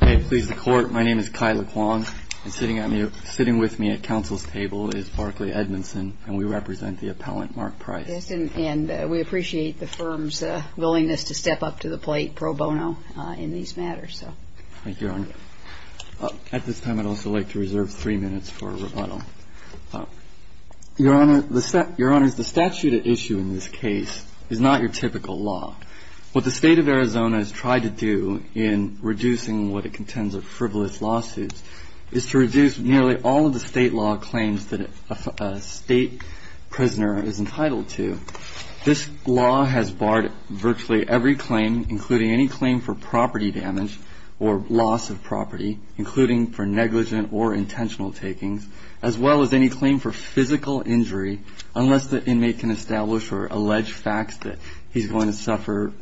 Hi, please, the Court. My name is Kai LeClan. Sitting with me at counsel's table is Barclay Edmondson, and we represent the appellant, Mark Price. And we appreciate the firm's willingness to step up to the plate pro bono in these matters. Thank you, Your Honor. At this time, I'd also like to reserve three minutes for rebuttal. Your Honor, the statute at issue in this case is not your typical law. What the State of Arizona has tried to do in reducing what it contends are frivolous lawsuits is to reduce nearly all of the state law claims that a state prisoner is entitled to. This law has barred virtually every claim, including any claim for property damage or loss of property, including for negligent or intentional takings, as well as any claim for physical injury, unless the inmate can establish or allege facts that he's going to suffer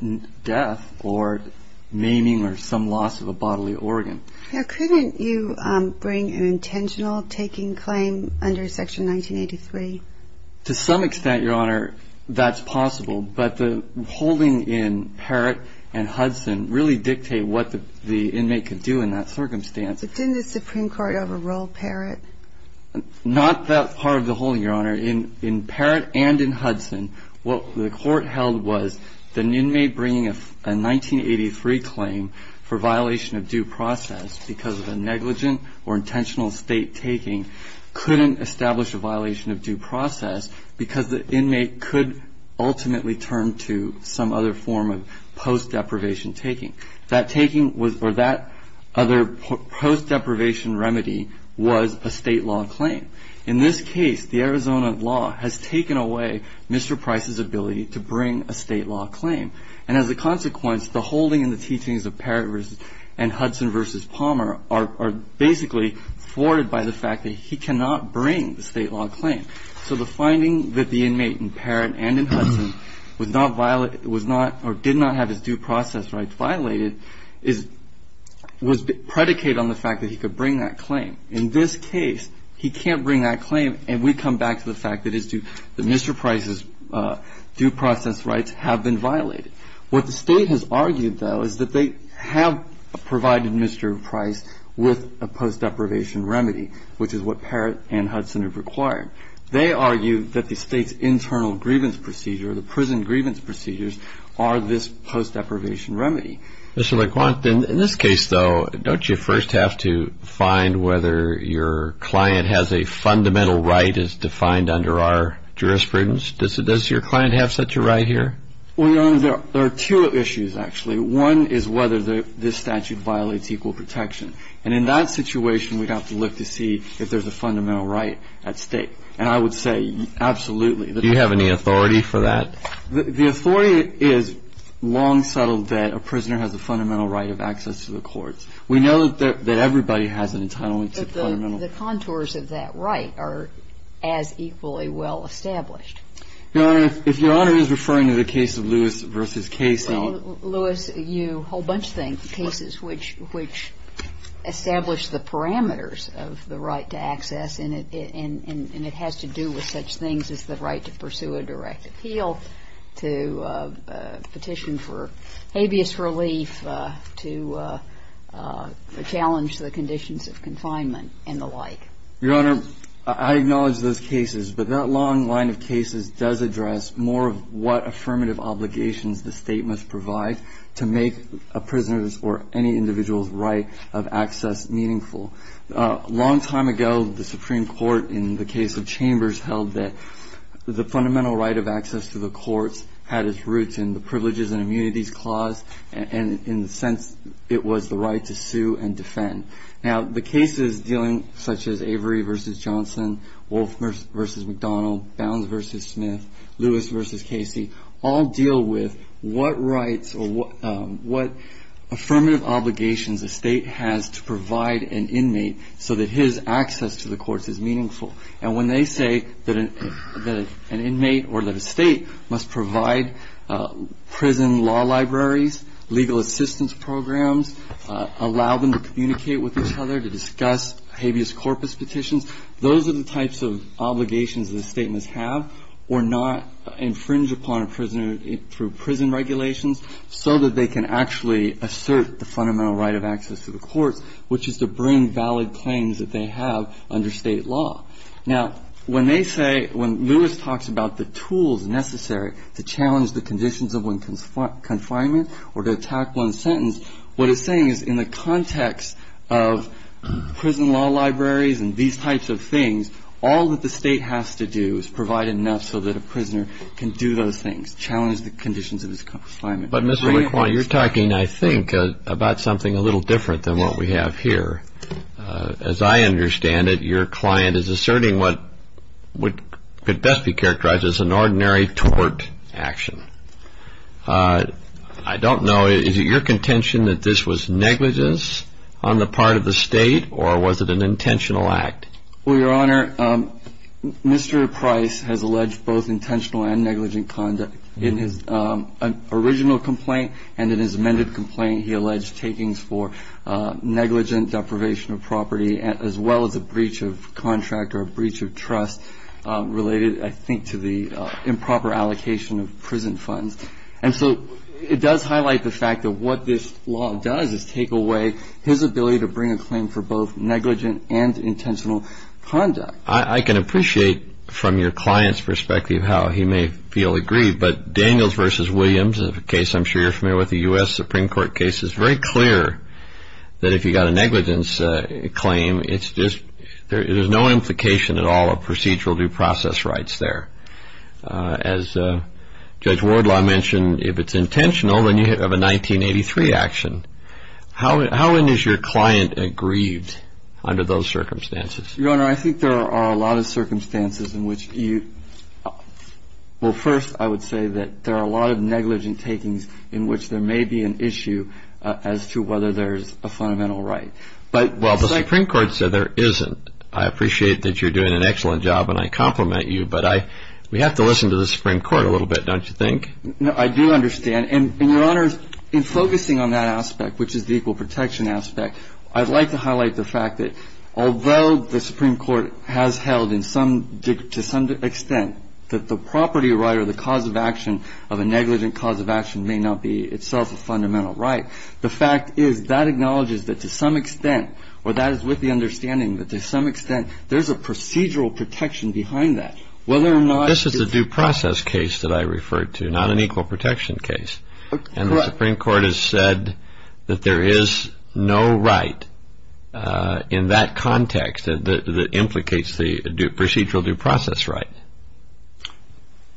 death or maiming or some loss of a bodily organ. Couldn't you bring an intentional taking claim under Section 1983? To some extent, Your Honor, that's possible. But the holding in Parrott and Hudson really dictate what the inmate could do in that circumstance. But didn't the Supreme Court overrule Parrott? Not that part of the holding, Your Honor. In Parrott and in Hudson, what the Court held was the inmate bringing a 1983 claim for violation of due process because of a negligent or intentional state taking couldn't establish a violation of due process because the inmate could ultimately turn to some other form of post-deprivation taking. That taking or that other post-deprivation remedy was a state law claim. In this case, the Arizona law has taken away Mr. Price's ability to bring a state law claim. And as a consequence, the holding and the teachings of Parrott and Hudson v. Palmer are basically thwarted by the fact that he cannot bring the state law claim. So the finding that the inmate in Parrott and in Hudson was not or did not have his due process rights violated was predicated on the fact that he could bring that claim. In this case, he can't bring that claim, and we come back to the fact that Mr. Price's due process rights have been violated. What the state has argued, though, is that they have provided Mr. Price with a post-deprivation remedy, which is what Parrott and Hudson have required. They argue that the state's internal grievance procedure, the prison grievance procedures, are this post-deprivation remedy. Mr. LeQuant, in this case, though, don't you first have to find whether your client has a fundamental right as defined under our jurisprudence? Does your client have such a right here? Well, Your Honor, there are two issues, actually. One is whether this statute violates equal protection. And in that situation, we'd have to look to see if there's a fundamental right at stake. And I would say absolutely. Do you have any authority for that? The authority is long settled that a prisoner has a fundamental right of access to the courts. We know that everybody has an entitlement to fundamental rights. But the contours of that right are as equally well established. Your Honor, if Your Honor is referring to the case of Lewis v. Casey. Well, Lewis, you whole bunch of cases which establish the parameters of the right to access, and it has to do with such things as the right to pursue a direct appeal, to petition for habeas relief, to challenge the conditions of confinement and the like. Your Honor, I acknowledge those cases. But that long line of cases does address more of what affirmative obligations the state must provide to make a prisoner's or any individual's right of access meaningful. A long time ago, the Supreme Court, in the case of Chambers, held that the fundamental right of access to the courts had its roots in the Privileges and Immunities Clause, and in the sense it was the right to sue and defend. Now, the cases dealing such as Avery v. Johnson, Wolf v. McDonald, Bounds v. Smith, Lewis v. Casey, all deal with what rights or what affirmative obligations a state has to provide an inmate so that his access to the courts is meaningful. And when they say that an inmate or that a state must provide prison law libraries, legal assistance programs, allow them to communicate with each other, to discuss habeas corpus petitions, those are the types of obligations that a state must have or not infringe upon a prisoner through prison regulations so that they can actually assert the fundamental right of access to the courts, which is to bring valid claims that they have under state law. Now, when they say, when Lewis talks about the tools necessary to challenge the conditions of one's confinement or to attack one's sentence, what he's saying is in the context of prison law libraries and these types of things, all that the state has to do is provide enough so that a prisoner can do those things, challenge the conditions of his confinement. But, Mr. McQuarrie, you're talking, I think, about something a little different than what we have here. As I understand it, your client is asserting what could best be characterized as an ordinary tort action. I don't know. Is it your contention that this was negligence on the part of the state, or was it an intentional act? Well, Your Honor, Mr. Price has alleged both intentional and negligent conduct. In his original complaint and in his amended complaint, he alleged takings for negligent deprivation of property as well as a breach of contract or a breach of trust related, I think, to the improper allocation of prison funds. And so it does highlight the fact that what this law does is take away his ability to bring a claim for both negligent and intentional conduct. I can appreciate from your client's perspective how he may feel aggrieved, but Daniels v. Williams, a case I'm sure you're familiar with, a U.S. Supreme Court case, it's very clear that if you've got a negligence claim, it's just there's no implication at all of procedural due process rights there. As Judge Wardlaw mentioned, if it's intentional, then you have a 1983 action. How is your client aggrieved under those circumstances? Your Honor, I think there are a lot of circumstances in which you – well, first, I would say that there are a lot of negligent takings in which there may be an issue as to whether there's a fundamental right. Well, the Supreme Court said there isn't. I appreciate that you're doing an excellent job and I compliment you, but we have to listen to the Supreme Court a little bit, don't you think? I do understand. And, Your Honor, in focusing on that aspect, which is the equal protection aspect, I'd like to highlight the fact that although the Supreme Court has held to some extent that the property right or the cause of action of a negligent cause of action may not be itself a fundamental right, the fact is that acknowledges that to some extent or that is with the understanding that to some extent there's a procedural protection behind that, whether or not – This is a due process case that I referred to, not an equal protection case. Correct. The Supreme Court has said that there is no right in that context that implicates the procedural due process right.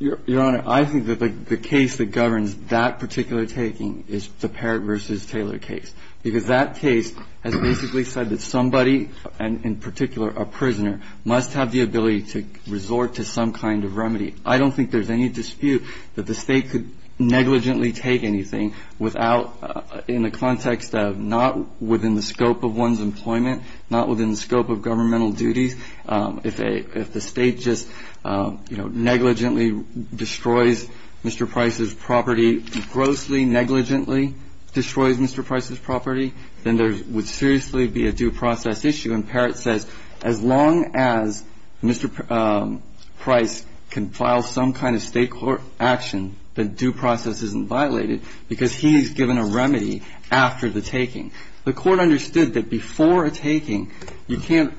Your Honor, I think that the case that governs that particular taking is the Parrott v. Taylor case because that case has basically said that somebody, and in particular a prisoner, must have the ability to resort to some kind of remedy. I don't think there's any dispute that the State could negligently take anything without – in the context of not within the scope of one's employment, not within the scope of governmental duties. If the State just, you know, negligently destroys Mr. Price's property, grossly negligently destroys Mr. Price's property, then there would seriously be a due process issue. And Parrott says as long as Mr. Price can file some kind of State court action, the due process isn't violated because he's given a remedy after the taking. The Court understood that before a taking, you can't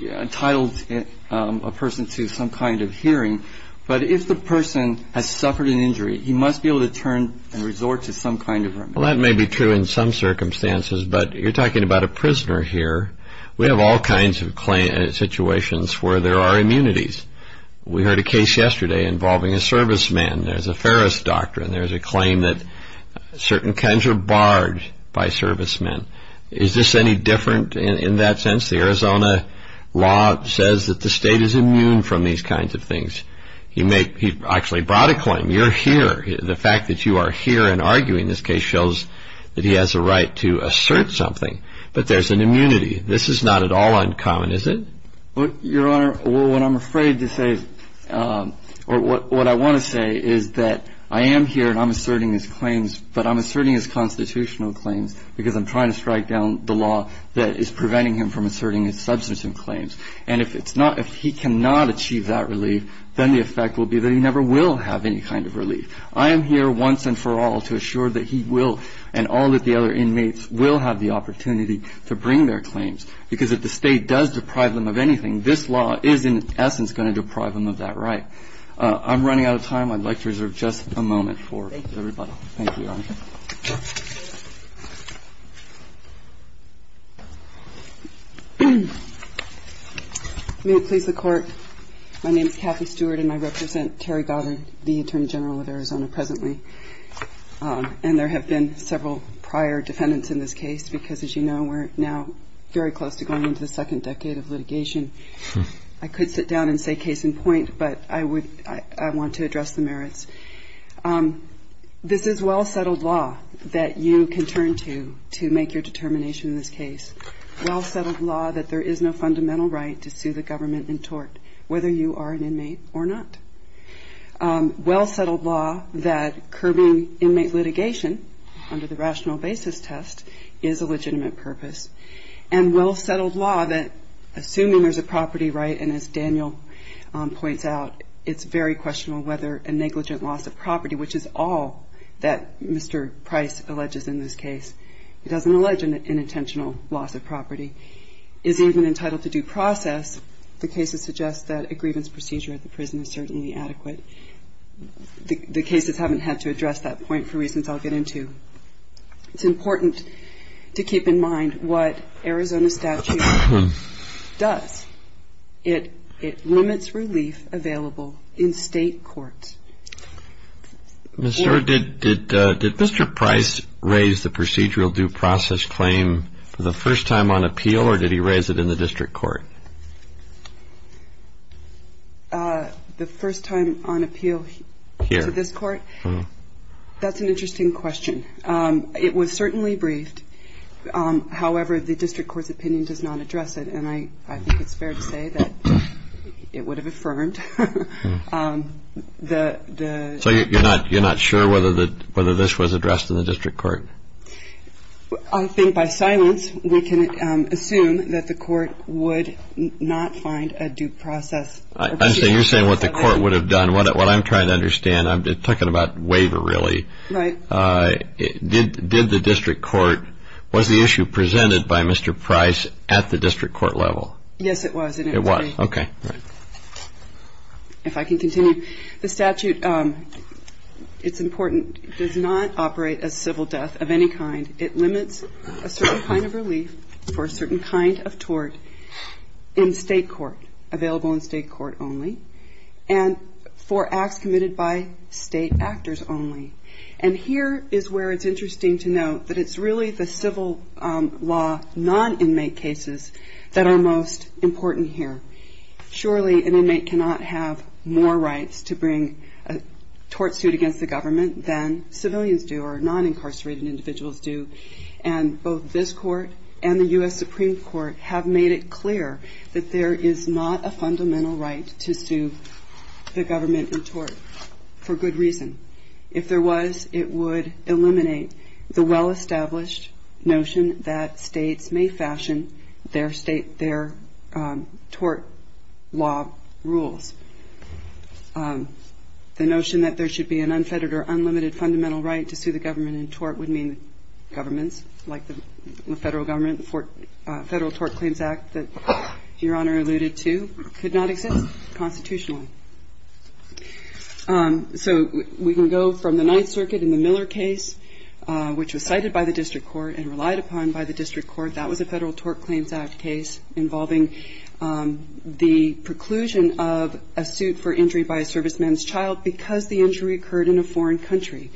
entitle a person to some kind of hearing, but if the person has suffered an injury, he must be able to turn and resort to some kind of remedy. Well, that may be true in some circumstances, but you're talking about a prisoner here. We have all kinds of situations where there are immunities. We heard a case yesterday involving a serviceman. There's a Ferris doctrine. There's a claim that certain kinds are barred by servicemen. Is this any different in that sense? The Arizona law says that the State is immune from these kinds of things. He actually brought a claim. You're here. The fact that you are here and arguing this case shows that he has a right to assert something, but there's an immunity. This is not at all uncommon, is it? Your Honor, what I'm afraid to say or what I want to say is that I am here and I'm asserting his claims, but I'm asserting his constitutional claims because I'm trying to strike down the law that is preventing him from asserting his substantive claims. And if he cannot achieve that relief, then the effect will be that he never will have any kind of relief. I am here once and for all to assure that he will and all of the other inmates will have the opportunity to bring their claims because if the State does deprive them of anything, this law is in essence going to deprive them of that right. I'm running out of time. I'd like to reserve just a moment for everybody. May it please the Court. My name is Kathy Stewart and I represent Terry Goddard, the Attorney General of Arizona presently. And there have been several prior defendants in this case because, as you know, we're now very close to going into the second decade of litigation. I could sit down and say case in point, but I want to address the merits. This is well-settled law that you can turn to to make your determination in this case, well-settled law that there is no fundamental right to sue the government in tort, whether you are an inmate or not, well-settled law that curbing inmate litigation under the rational basis test is a legitimate purpose, and well-settled law that, assuming there's a property right, and as Daniel points out, it's very questionable whether a negligent loss of property, which is all that Mr. Price alleges in this case, it doesn't allege an intentional loss of property, is even entitled to due process. The cases suggest that a grievance procedure at the prison is certainly adequate. The cases haven't had to address that point for reasons I'll get into. It's important to keep in mind what Arizona statute does. It limits relief available in state courts. Mr. Price raised the procedural due process claim for the first time on appeal, or did he raise it in the district court? The first time on appeal to this court? Here. That's an interesting question. It was certainly briefed. However, the district court's opinion does not address it, and I think it's fair to say that it would have affirmed. So you're not sure whether this was addressed in the district court? I think by silence we can assume that the court would not find a due process. You're saying what the court would have done, what I'm trying to understand. I'm talking about waiver, really. Right. Did the district court, was the issue presented by Mr. Price at the district court level? Yes, it was. It was. Okay. If I can continue, the statute, it's important, does not operate as civil death of any kind. It limits a certain kind of relief for a certain kind of tort in state court, available in state court only, and for acts committed by state actors only. And here is where it's interesting to note that it's really the civil law non-inmate cases that are most important here. Surely an inmate cannot have more rights to bring a tort suit against the government than civilians do or non-incarcerated individuals do, and both this court and the U.S. Supreme Court have made it clear that there is not a fundamental right to sue the government in tort for good reason. If there was, it would eliminate the well-established notion that states may fashion their state, their tort law rules. The notion that there should be an unfettered or unlimited fundamental right to sue the government in tort would mean governments like the federal government, the Federal Tort Claims Act that Your Honor alluded to, could not exist constitutionally. So we can go from the Ninth Circuit in the Miller case, which was cited by the district court and relied upon by the district court. That was a Federal Tort Claims Act case involving the preclusion of a suit for injury by a serviceman's child because the injury occurred in a foreign country.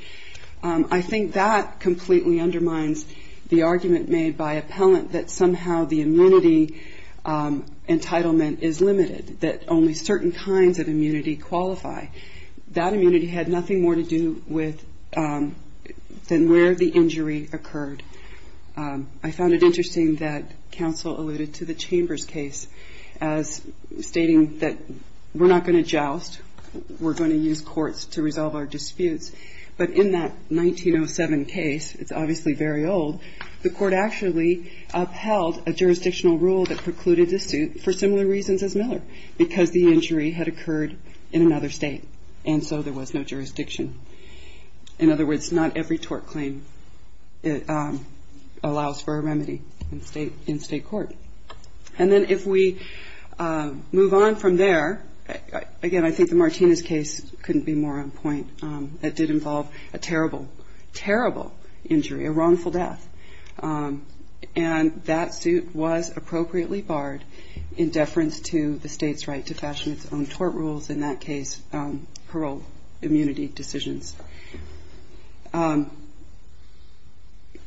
I think that completely undermines the argument made by appellant that somehow the amenity entitlement is limited, that only certain kinds of amenity qualify. That amenity had nothing more to do with than where the injury occurred. I found it interesting that counsel alluded to the Chambers case as stating that we're not going to joust, we're going to use courts to resolve our disputes. But in that 1907 case, it's obviously very old, the court actually upheld a jurisdictional rule that precluded a suit for similar reasons as Miller because the injury had occurred in another state and so there was no jurisdiction. In other words, not every tort claim allows for a remedy in state court. And then if we move on from there, again, I think the Martinez case couldn't be more on point. It did involve a terrible, terrible injury, a wrongful death. And that suit was appropriately barred in deference to the state's right to fashion its own tort rules, in that case, parole immunity decisions.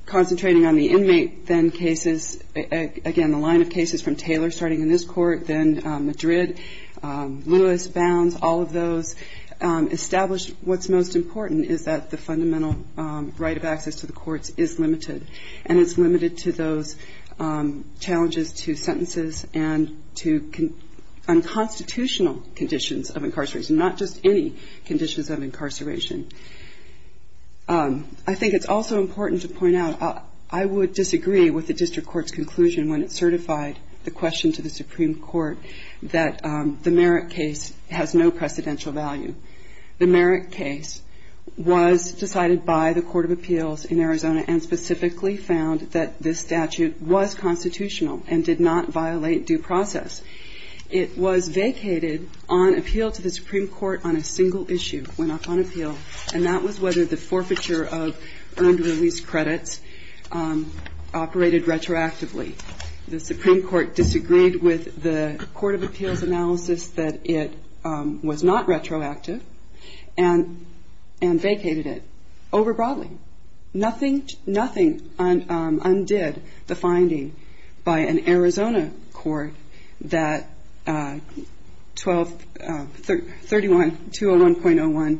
Concentrating on the inmate, then cases, again, the line of cases from Taylor starting in this court, then Madrid, Lewis, Bounds, all of those established what's most important is that the fundamental right of access to the courts is limited. And it's limited to those challenges to sentences and to unconstitutional conditions of incarceration, not just any conditions of incarceration. I think it's also important to point out I would disagree with the district court's conclusion when it certified the question to the Supreme Court that the Merrick case has no precedential value. The Merrick case was decided by the Court of Appeals in Arizona and specifically found that this statute was constitutional and did not violate due process. It was vacated on appeal to the Supreme Court on a single issue, went up on appeal, and that was whether the forfeiture of earned release credits operated retroactively. The Supreme Court disagreed with the Court of Appeals analysis that it was not retroactive and vacated it. Overbroadly, nothing undid the finding by an Arizona court that 1231.201.01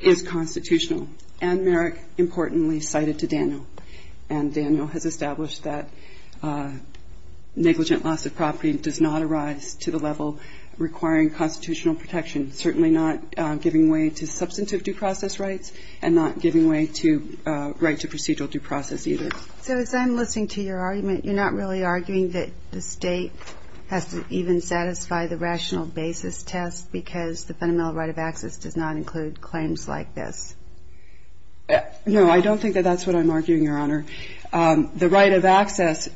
is constitutional, and Merrick, importantly, cited to Daniel. And Daniel has established that negligent loss of property does not arise to the level requiring constitutional protection, certainly not giving way to substantive due process rights and not giving way to right to procedural due process either. So as I'm listening to your argument, you're not really arguing that the state has to even satisfy the rational basis test because the fundamental right of access does not include claims like this. No, I don't think that that's what I'm arguing, Your Honor. The right of access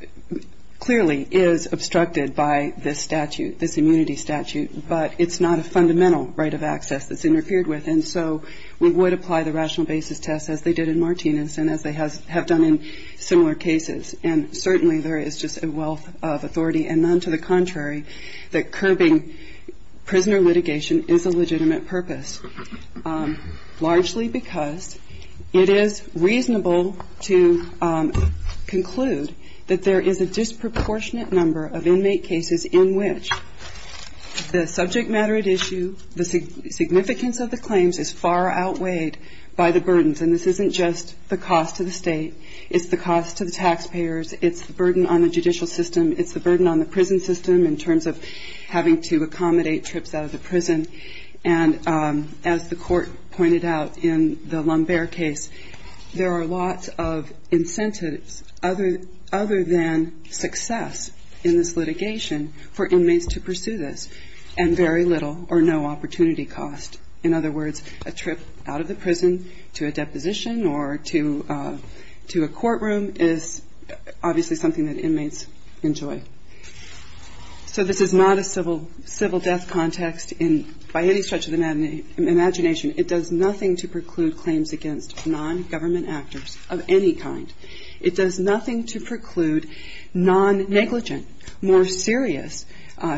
clearly is obstructed by this statute, this immunity statute, but it's not a fundamental right of access that's interfered with. And so we would apply the rational basis test as they did in Martinez and as they have done in similar cases. And certainly there is just a wealth of authority and none to the contrary that curbing prisoner litigation is a legitimate purpose, largely because it is reasonable to conclude that there is a disproportionate number of inmate cases in which the subject matter at issue, the significance of the claims is far outweighed by the burdens. And this isn't just the cost to the state, it's the cost to the taxpayers, it's the burden on the judicial system, it's the burden on the prison system in terms of having to accommodate trips out of the prison. And as the Court pointed out in the Lumbert case, there are lots of incentives other than success in this litigation for inmates to pursue this, and very little or no opportunity cost. In other words, a trip out of the prison to a deposition or to a courtroom is obviously something that inmates enjoy. So this is not a civil death context by any stretch of the imagination. It does nothing to preclude claims against non-government actors of any kind. It does nothing to preclude non-negligent, more serious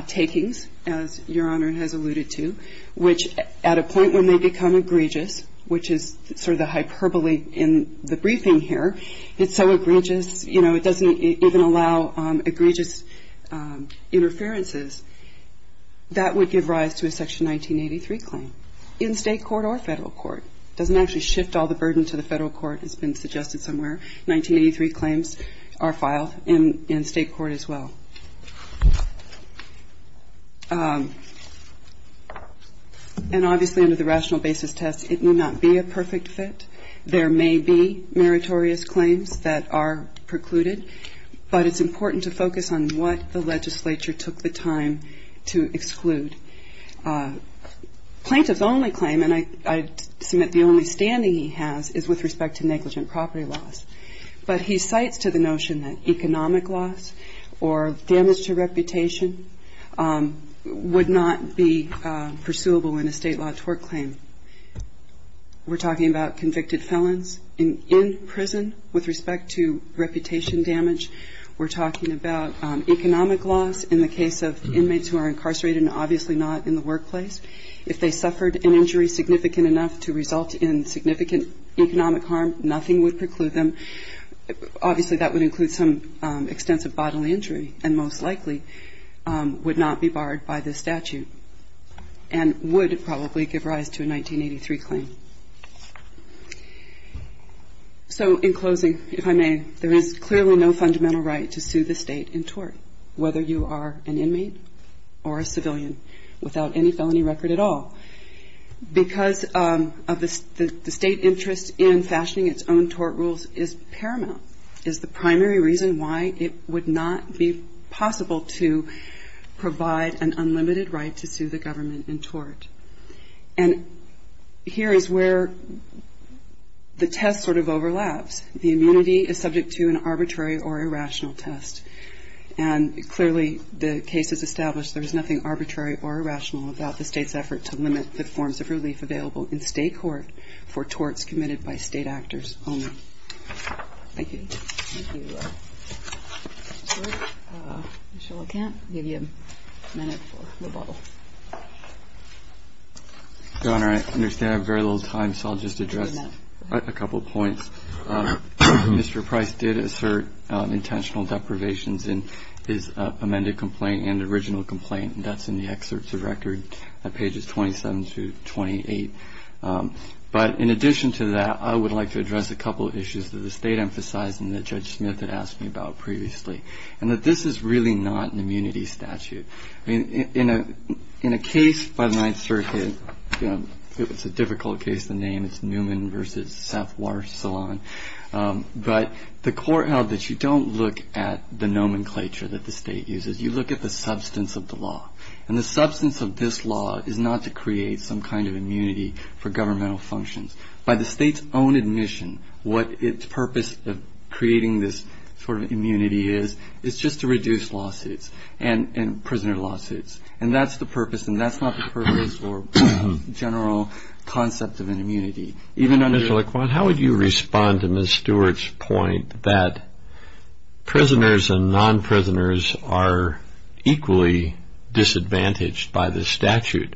takings, as Your Honor has alluded to, which at a point when they become egregious, which is sort of the hyperbole in the briefing here, it's so egregious, you know, it doesn't even allow egregious interferences. That would give rise to a Section 1983 claim in state court or federal court. It doesn't actually shift all the burden to the federal court, as has been suggested somewhere. 1983 claims are filed in state court as well. And obviously under the rational basis test, it may not be a perfect fit. There may be meritorious claims that are precluded, but it's important to focus on what the legislature took the time to exclude. Plaintiff's only claim, and I submit the only standing he has, is with respect to negligent property loss. But he cites to the notion that economic loss or damage to reputation would not be pursuable in a state law tort claim. We're talking about convicted felons in prison with respect to reputation damage. We're talking about economic loss in the case of inmates who are incarcerated and obviously not in the workplace. If they suffered an injury significant enough to result in significant economic harm, nothing would preclude them. Obviously, that would include some extensive bodily injury and most likely would not be barred by this statute, and would probably give rise to a 1983 claim. So in closing, if I may, there is clearly no fundamental right to sue the state in tort, whether you are an inmate or a civilian, without any felony record at all, because of the state interest in fashioning its own tort rules is paramount. It's the primary reason why it would not be possible to provide an unlimited right to sue the government in tort. And here is where the test sort of overlaps. The immunity is subject to an arbitrary or irrational test, and clearly the case has established there is nothing arbitrary or irrational about the state's effort to limit the forms of relief available in state court for torts committed by state actors only. Thank you. Your Honor, I understand I have very little time, so I'll just address a couple of points. Mr. Price did assert intentional deprivations in his amended complaint and original complaint. That's in the excerpts of record at pages 27 to 28. But in addition to that, I would like to address a couple of issues that the state emphasized and that Judge Smith had asked me about previously, and that this is really not an immunity statute. I mean, in a case by the Ninth Circuit, it's a difficult case to name, it's Newman v. Seth Warsalon, but the court held that you don't look at the nomenclature that the state uses, you look at the substance of the law. And the substance of this law is not to create some kind of immunity for governmental functions. By the state's own admission, what its purpose of creating this sort of immunity is, is just to reduce lawsuits and prisoner lawsuits. And that's the purpose, and that's not the purpose or general concept of an immunity. Even under the... Mr. Price made the point that prisoners and non-prisoners are equally disadvantaged by this statute.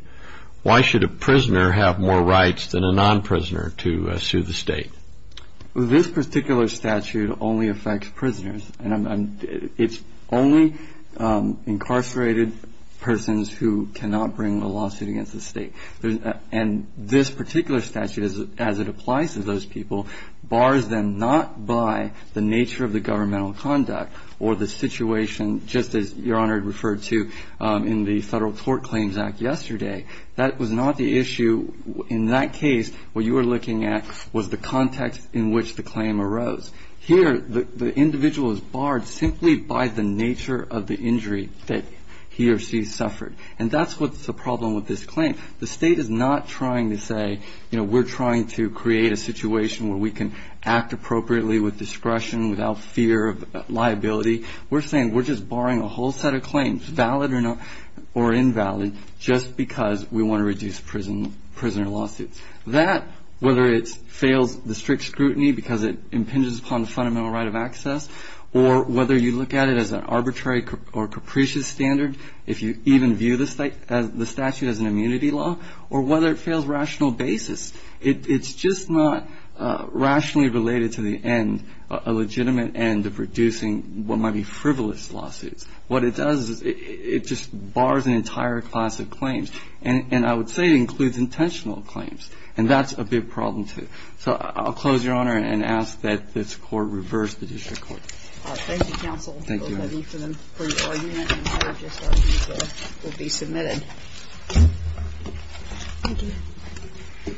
Why should a prisoner have more rights than a non-prisoner to sue the state? This particular statute only affects prisoners, and it's only incarcerated persons who cannot bring a lawsuit against the state. And this particular statute, as it applies to those people, bars them not by the nature of the governmental conduct or the situation, just as Your Honor referred to in the Federal Tort Claims Act yesterday. That was not the issue. In that case, what you were looking at was the context in which the claim arose. Here, the individual is barred simply by the nature of the injury that he or she suffered. And that's what's the problem with this claim. The state is not trying to say, you know, we're trying to create a situation where we can act appropriately with discretion without fear of liability. We're saying we're just barring a whole set of claims, valid or invalid, just because we want to reduce prisoner lawsuits. That, whether it fails the strict scrutiny because it impinges upon the fundamental right of access, or whether you look at it as an arbitrary or capricious standard if you even view the statute as an immunity law, or whether it fails rational basis, it's just not rationally related to the end, a legitimate end of reducing what might be frivolous lawsuits. What it does is it just bars an entire class of claims. And I would say it includes intentional claims. And that's a big problem, too. So I'll close, Your Honor, and ask that this Court reverse the district court. Thank you, counsel. Thank you, Your Honor. Both of you for your argument, and I urge this argument will be submitted. Thank you.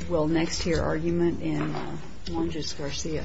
We'll next hear argument in Longes Garcia. Thank you.